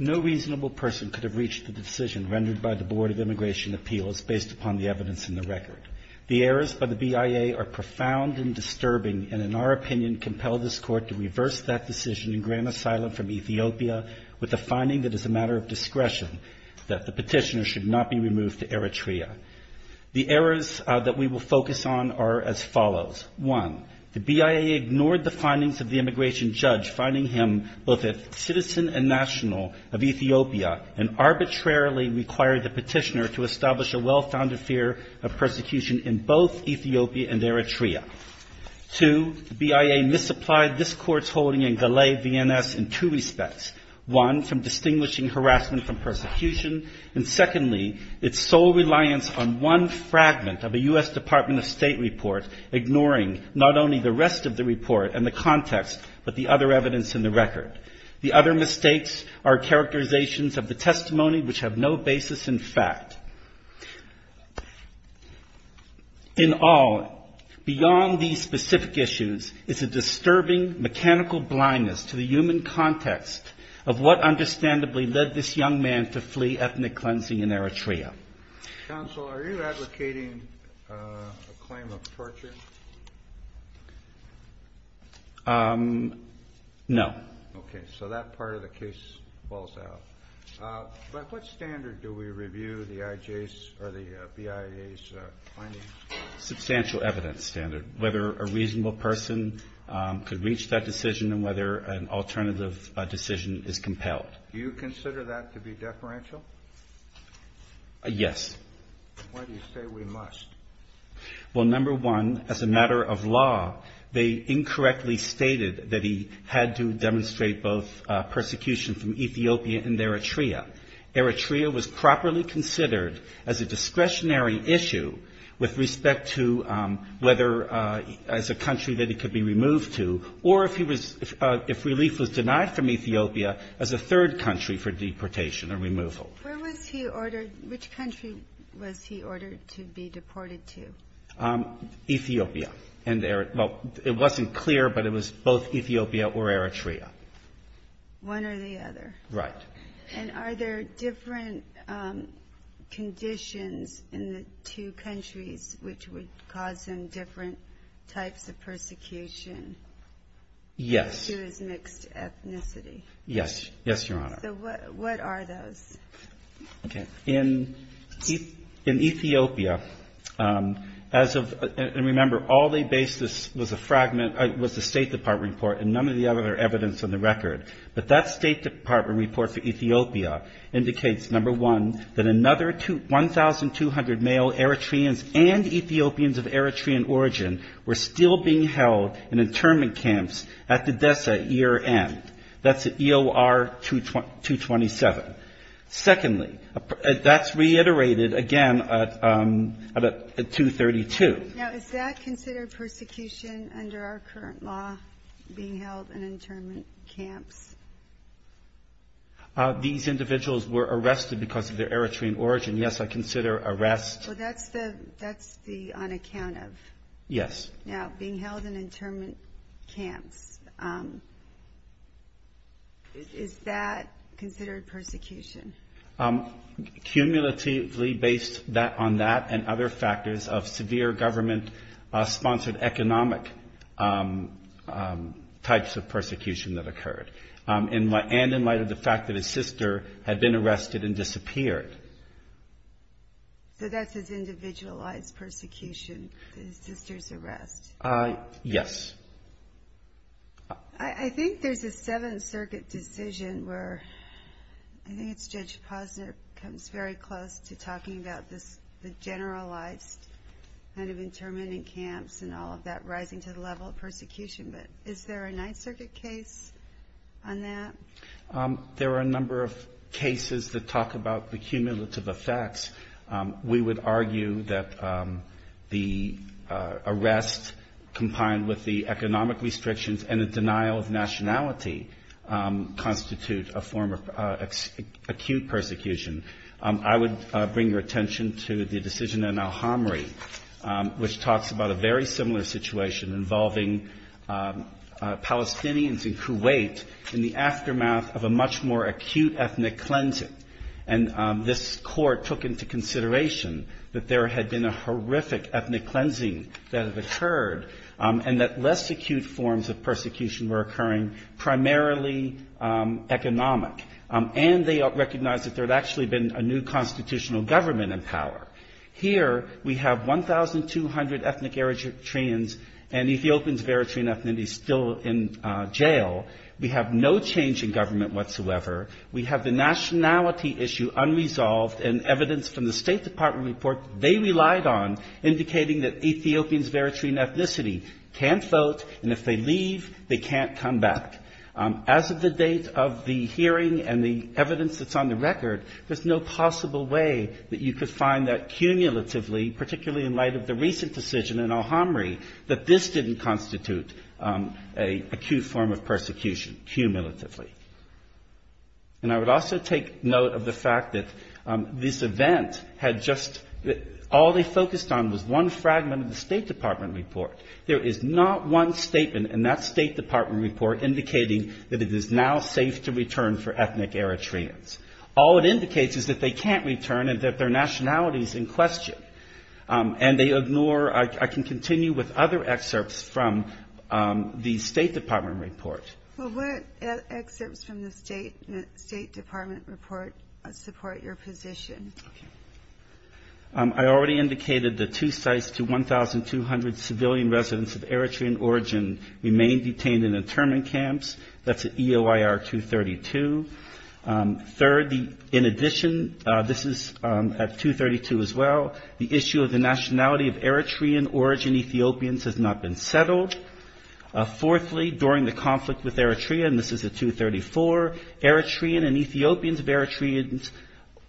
No reasonable person could have reached the decision rendered by the Board of Immigration Appeals based upon the evidence in the record. The errors by the BIA are profound and disturbing and, in our opinion, compel this Court to reverse that decision and grant asylum from Ethiopia with a finding that is a matter of discretion, that the petitioner should not be removed to Eritrea. The errors that we will focus on are as follows. One, the BIA ignored the findings of the immigration judge finding him both a citizen and national of Ethiopia and arbitrarily required the petitioner to establish a well-founded fear of persecution in both Ethiopia and Eritrea. Two, the BIA misapplied this Court's holding in Galei VNS in two respects. One, from distinguishing reliance on one fragment of a U.S. Department of State report, ignoring not only the rest of the report and the context, but the other evidence in the record. The other mistakes are characterizations of the testimony which have no basis in fact. In all, beyond these specific issues is a disturbing mechanical blindness to the human being. Counsel, are you advocating a claim of torture? No. Okay, so that part of the case falls out. By what standard do we review the BIA's findings? Substantial evidence standard, whether a reasonable person could reach that decision and whether an alternative decision is compelled. Do you consider that to be deferential? Yes. Why do you say we must? Well, number one, as a matter of law, they incorrectly stated that he had to demonstrate both persecution from Ethiopia and Eritrea. Eritrea was properly considered as a discretionary issue with respect to whether as a country that he could be removed to or if he was, if relief was denied from Ethiopia as a third country for deportation and removal. Where was he ordered, which country was he ordered to be deported to? Ethiopia and Eritrea. Well, it wasn't clear, but it was both Ethiopia or Eritrea. One or the other? Right. And are there different conditions in the two countries which would cause him different types of persecution? Yes. Due to his mixed ethnicity? Yes. Yes, Your Honor. So what are those? Okay. In Ethiopia, as of, and remember, all they based this was a fragment, was the State Department report, and none of the other evidence on the record. But that State Department report for Ethiopia indicates, number one, that another 1,200 male Eritreans and Ethiopians of Eritrean origin were still being held in internment camps at the DESA year-end. That's EOR 227. Secondly, that's reiterated, again, at 232. Now, is that considered persecution under our current law, being held in internment camps? These individuals were arrested because of their Eritrean origin. Yes, I consider arrest. Well, that's the on account of? Yes. Now, being held in internment camps, is that considered persecution? Cumulatively based on that and other factors of severe government-sponsored economic types of persecution that occurred, and in light of the fact that his sister had been arrested and disappeared. So that's his individualized persecution, his sister's arrest? Yes. I think there's a Seventh Circuit decision where, I think it's Judge Posner comes very close to talking about the generalized kind of internment in camps and all of that rising to the level of persecution, but is there a Ninth Circuit case on that? There are a number of cases that talk about the cumulative effects. We would argue that the arrest, combined with the economic restrictions and the denial of nationality, constitute a form of acute persecution. I would bring your attention to the decision in Al-Hamri, which talks about a very similar situation involving Palestinians in Kuwait in the aftermath of a much more acute ethnic cleansing. And this court took into consideration that there had been a horrific ethnic cleansing that had occurred, and that less acute forms of persecution were occurring, primarily economic. And they recognized that there had actually been a new constitutional government in power. Here, we have 1,200 ethnic Eritreans, and Ethiopians of Eritrean ethnicity still in jail. We have no change in government whatsoever. We have the nationality issue unresolved, and evidence from the State Department report they relied on indicating that Ethiopians of Eritrean ethnicity can't vote, and if they leave, they can't come back. As of the date of the hearing and the evidence that's on the record, there's no possible way that you could find that cumulatively, particularly in light of the recent decision in Al-Hamri, that this didn't constitute an acute form of persecution, cumulatively. And I would also take note of the fact that this event had just, all they focused on was one fragment of the State Department report. There is not one statement in that State Department report indicating that it is now safe to return for ethnic Eritreans. All it indicates is that they can't return and that their nationality is in question. And they ignore, I can continue with other excerpts from the State Department report. Well, what excerpts from the State Department report support your position? I already indicated the two sites to 1,200 civilian residents of Eritrean origin remain detained in internment camps. That's EOIR 232. Third, in addition, this is at 232 as well, the issue of the nationality of Eritrean origin Ethiopians has not been settled. Fourthly, during the conflict with Eritrea, and this is at 234, Eritrean and Ethiopians of Eritrea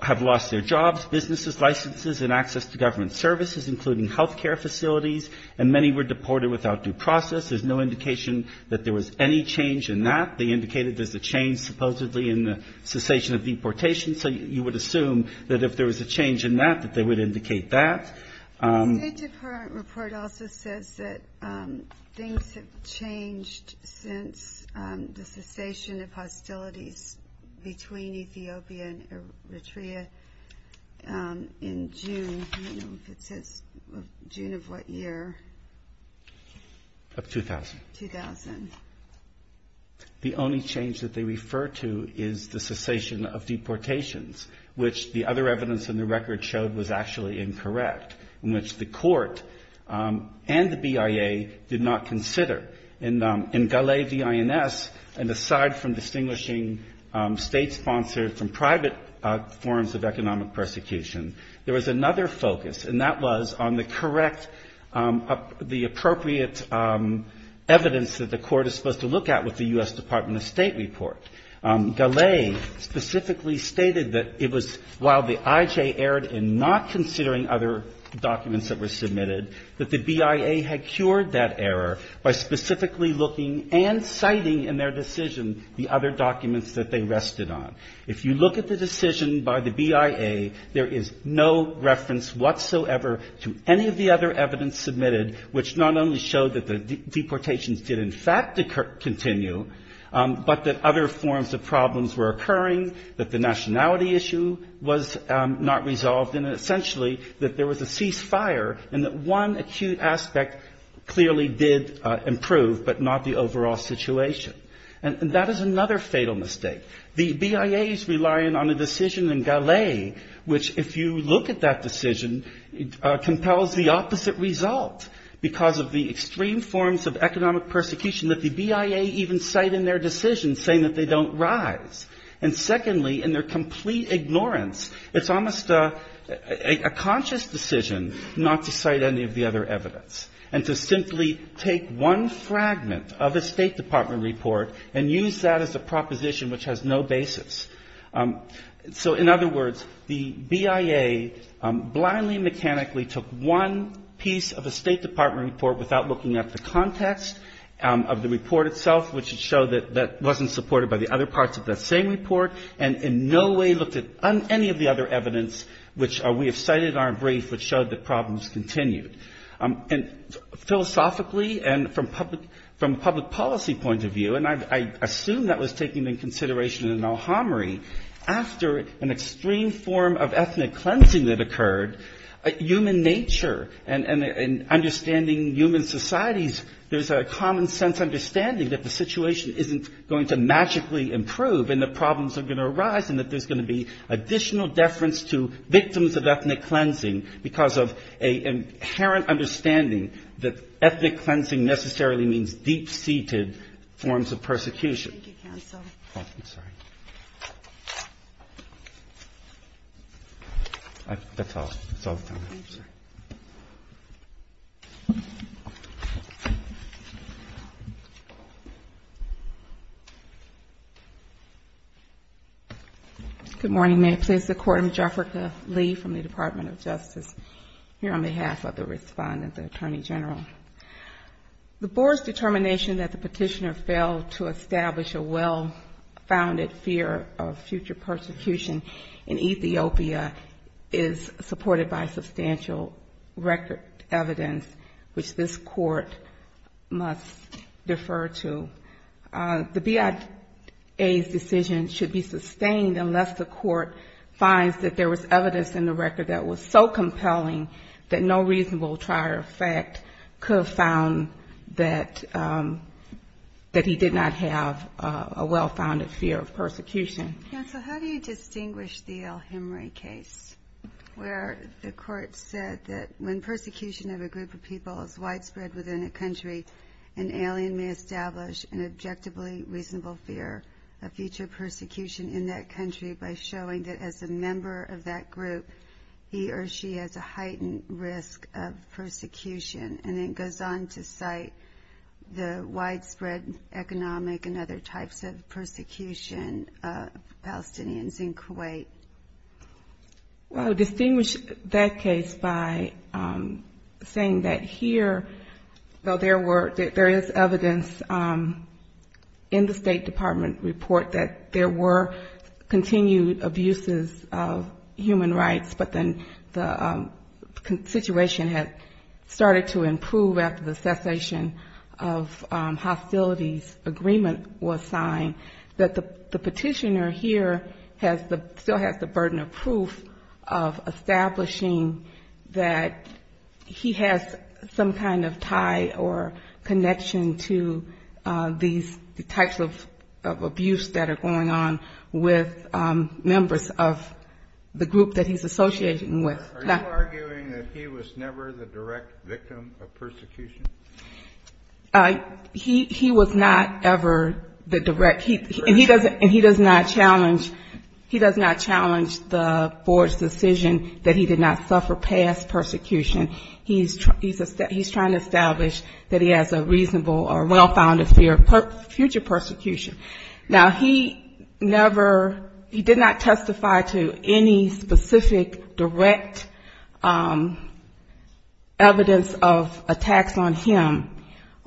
have lost their jobs, businesses, licenses, and access to government services, including healthcare facilities, and many were deported without due process. There's no indication that there was any change in that. They indicated there's a change supposedly in the cessation of deportation. So you would assume that if there was a change in that, that they would indicate that. The State Department report also says that things have changed since the cessation of hostilities between Ethiopia and Eritrea in June. I don't know if it says June of what year. Of 2000. The only change that they refer to is the cessation of deportations, which the other evidence in the record showed was actually incorrect, in which the court and the BIA did not consider. In Galei V. INS, and aside from distinguishing state-sponsored from private forms of economic persecution, there was another focus, and that was on the correct appropriation of the appropriate evidence that the court is supposed to look at with the U.S. Department of State report. Galei specifically stated that it was while the IJ erred in not considering other documents that were submitted, that the BIA had cured that error by specifically looking and citing in their decision the other documents that they rested on. If you look at the decision by the BIA, there is no reference whatsoever to any of the other evidence submitted in the BIA, which not only showed that the deportations did in fact continue, but that other forms of problems were occurring, that the nationality issue was not resolved, and essentially that there was a ceasefire and that one acute aspect clearly did improve, but not the overall situation. And that is another fatal mistake. The BIA is relying on a decision in Galei which, if you look at that decision, compels the opposite result because of the extreme forms of economic persecution that the BIA even cite in their decision, saying that they don't rise. And secondly, in their complete ignorance, it's almost a conscious decision not to cite any of the other evidence and to simply take one fragment of a State Department report and use that as a proposition which has no basis. So in other words, the BIA blindly mechanically took one piece of a State Department report without looking at the context of the report itself, which would show that that wasn't supported by the other parts of that same report, and in no way looked at any of the other evidence which we have cited in our brief which showed that problems continued. And philosophically and from public policy point of view, and I assume that was taken into consideration in El Hamra, but I don't think that that was taken into consideration in El Hamra. And thirdly, after an extreme form of ethnic cleansing that occurred, human nature and understanding human societies, there's a common-sense understanding that the situation isn't going to magically improve and that problems are going to arise and that there's going to be additional deference to victims of ethnic cleansing because of an inherent understanding that ethnic cleansing necessarily means deep-seated forms of persecution. That's all. Good morning. May it please the Court. I'm Jafrika Lee from the Department of Justice. Here on behalf of the Respondent, the Attorney General. The Board's determination that the Petitioner failed to establish a well-founded fear of future persecution in Ethiopia is supported by substantial record evidence which this Court must defer to. The BIA's decision should be sustained unless the Court finds that there was evidence in the record that was so compelling that no could have found that he did not have a well-founded fear of persecution. Counsel, how do you distinguish the El Hamra case where the Court said that when persecution of a group of people is widespread within a country, an alien may establish an objectively reasonable fear of future persecution in that country by showing that as a member of that group, he or she has a heightened risk of persecution, and in case of an alien, he or she has a heightened risk of persecution? Well, I would distinguish that case by saying that here, though there is evidence in the State Department report that there were continued abuses of human rights, but then the situation had started to improve, and there were cases where there were cases where, after the cessation of hostilities agreement was signed, that the Petitioner here still has the burden of proof of establishing that he has some kind of tie or connection to these types of abuse that are going on with members of the group that he's talking about. And he does not challenge the board's decision that he did not suffer past persecution. He's trying to establish that he has a reasonable or well-founded fear of future persecution. Now, he never, he did not testify to any specific direct evidence of attacks against him. He did not testify to any specific direct evidence of attacks on him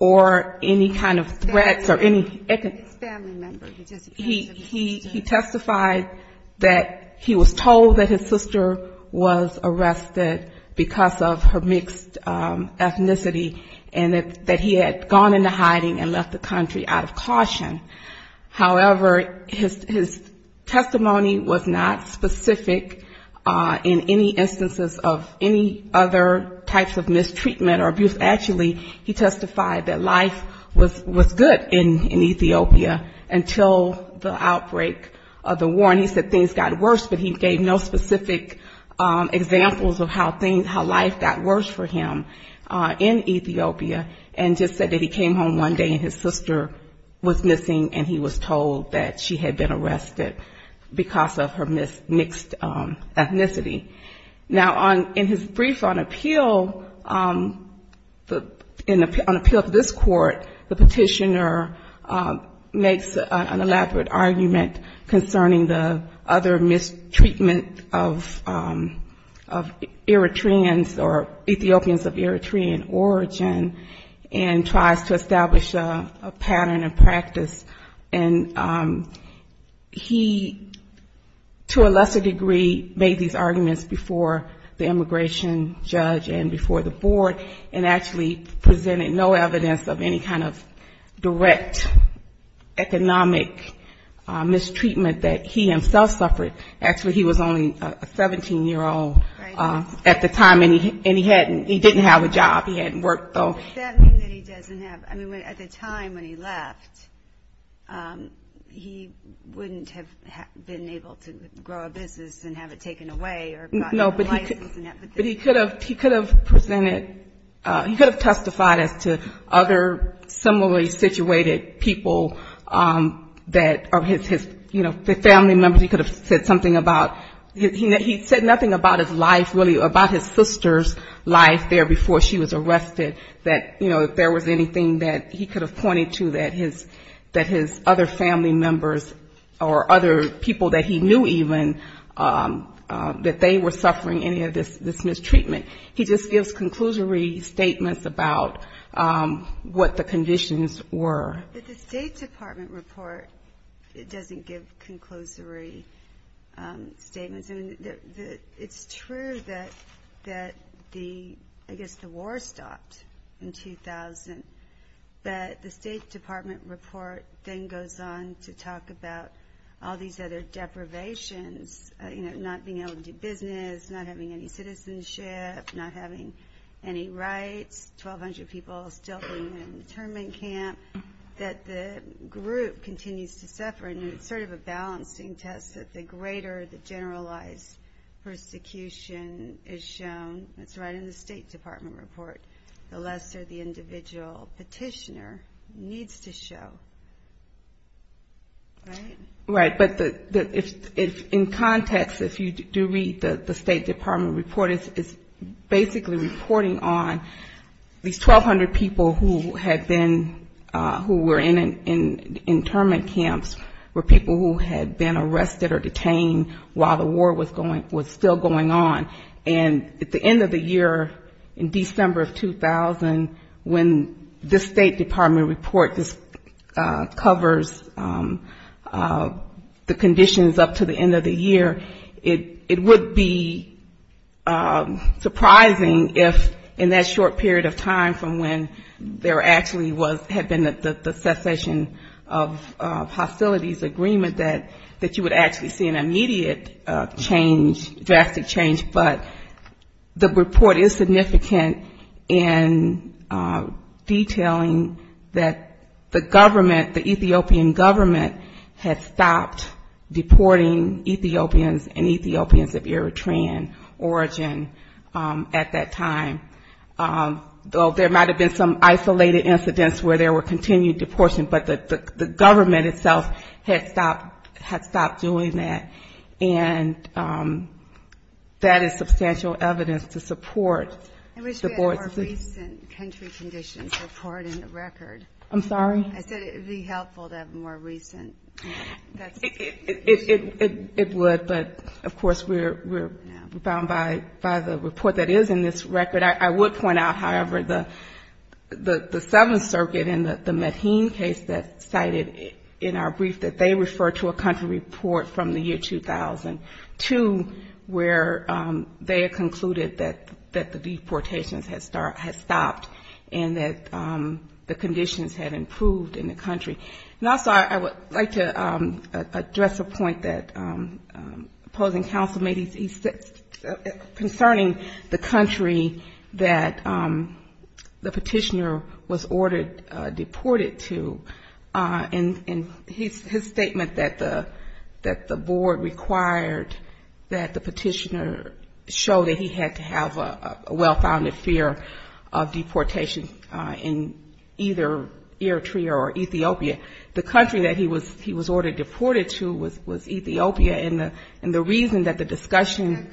or any kind of threats or any... He testified that he was told that his sister was arrested because of her mixed ethnicity, and that he had gone into hiding and left the country out of caution. However, his testimony was not specific in any instances of any other types of mistreatment or abuse. Actually, he testified that life was good in Ethiopia until the outbreak of the war, and he said things got worse, but he gave no specific examples of how life got worse for him in Ethiopia, and just said that he came home one day and his sister was missing, and he was told that she had been arrested because of her mixed ethnicity. Now, in his brief on appeal, on appeal to this court, the petitioner makes an elaborate argument concerning the other mistreatment of Eritreans or Ethiopians of Eritrean origin, and tries to establish a pattern of practice. And he, to a lesser degree, made these arguments before the immigration judge and before the board, and actually presented no evidence of any kind of direct economic mistreatment that he himself suffered. Actually, he was only a 17-year-old at the time, and he didn't have a job. He hadn't worked, though. But does that mean that he doesn't have, I mean, at the time when he left, he wouldn't have been able to grow a business and have it taken away or gotten a license and everything? No, but he could have presented, he could have testified as to other similarly situated people that are his, you know, the family members. He could have said something about, he said nothing about his life, really, about his sister's life there before she was killed, and that, you know, if there was anything that he could have pointed to that his other family members or other people that he knew even, that they were suffering any of this mistreatment. He just gives conclusory statements about what the conditions were. But the State Department report doesn't give conclusory statements. I mean, it's true that the, I guess, the war stopped until 2000, but the State Department report then goes on to talk about all these other deprivations, you know, not being able to do business, not having any citizenship, not having any rights, 1,200 people still in the internment camp, that the group continues to suffer. And it's sort of a balancing test that the greater the generalized persecution is shown, it's right in the State Department report, the lesser the individual petitioner needs to show. Right? Right. But in context, if you do read the State Department report, it's basically reporting on these 1,200 people who had been, who were in internment camps, were people who had been arrested or detained while the war was still going on. And at the end of the year, it would be surprising if in that short period of time from when there actually was, had been the cessation of hostilities agreement, that you would actually see an immediate change, drastic change. But the report is significant in detailing that the government, the Ethiopian government, had stopped deporting Ethiopians and Ethiopians of Eritrean origin at that time. Though there might have been some isolated incidents where there were continued deportions, but the government itself had stopped doing that. And that is substantial evidence to support the board's... I wish we had a more recent country conditions report in the record. I'm sorry? I said it would be helpful to have a more recent... It would, but of course we're bound by the report that is in this record. I would point out, however, the Seventh Circuit in the Medhin case that cited in our brief that they referred to a country report from the year 2002 where they had concluded that the deportations had stopped and that the conditions had improved in the country. And also I would like to address a point that opposing counsel made concerning the country that the petitioner was ordered deported to. And his statement that the board required that the petitioner show that he had to have a well-founded fear of deportation in either Eritrea or Ethiopia. The country that he was ordered deported to was Ethiopia, and the reason that the discussion...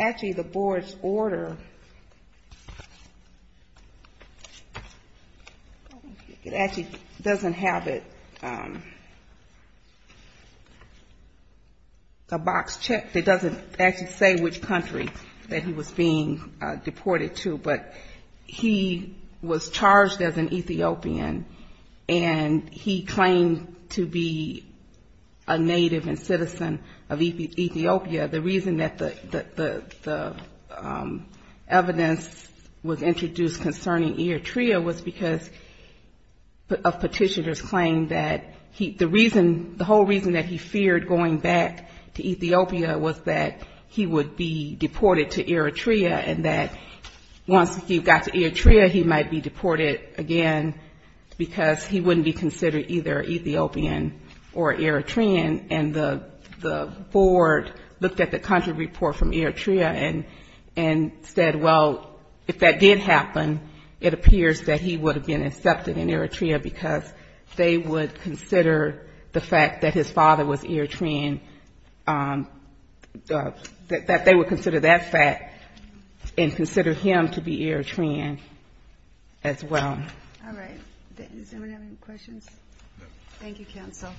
Actually, the board's order, it actually doesn't have it, a box check that doesn't actually say which country that he was being deported to, but he was charged as an Ethiopian, and he claimed to be a native and settled in Ethiopia. And he claimed to be a citizen of Ethiopia. The reason that the evidence was introduced concerning Eritrea was because of petitioner's claim that he... The reason, the whole reason that he feared going back to Ethiopia was that he would be deported to Eritrea and that once he got to Eritrea, he might be deported again because he wouldn't be considered either Ethiopian or Eritrean. And so the board looked at the country report from Eritrea and said, well, if that did happen, it appears that he would have been accepted in Eritrea because they would consider the fact that his father was Eritrean, that they would consider that fact and consider him to be Eritrean as well. All right. Does anyone have any questions? Thank you, counsel.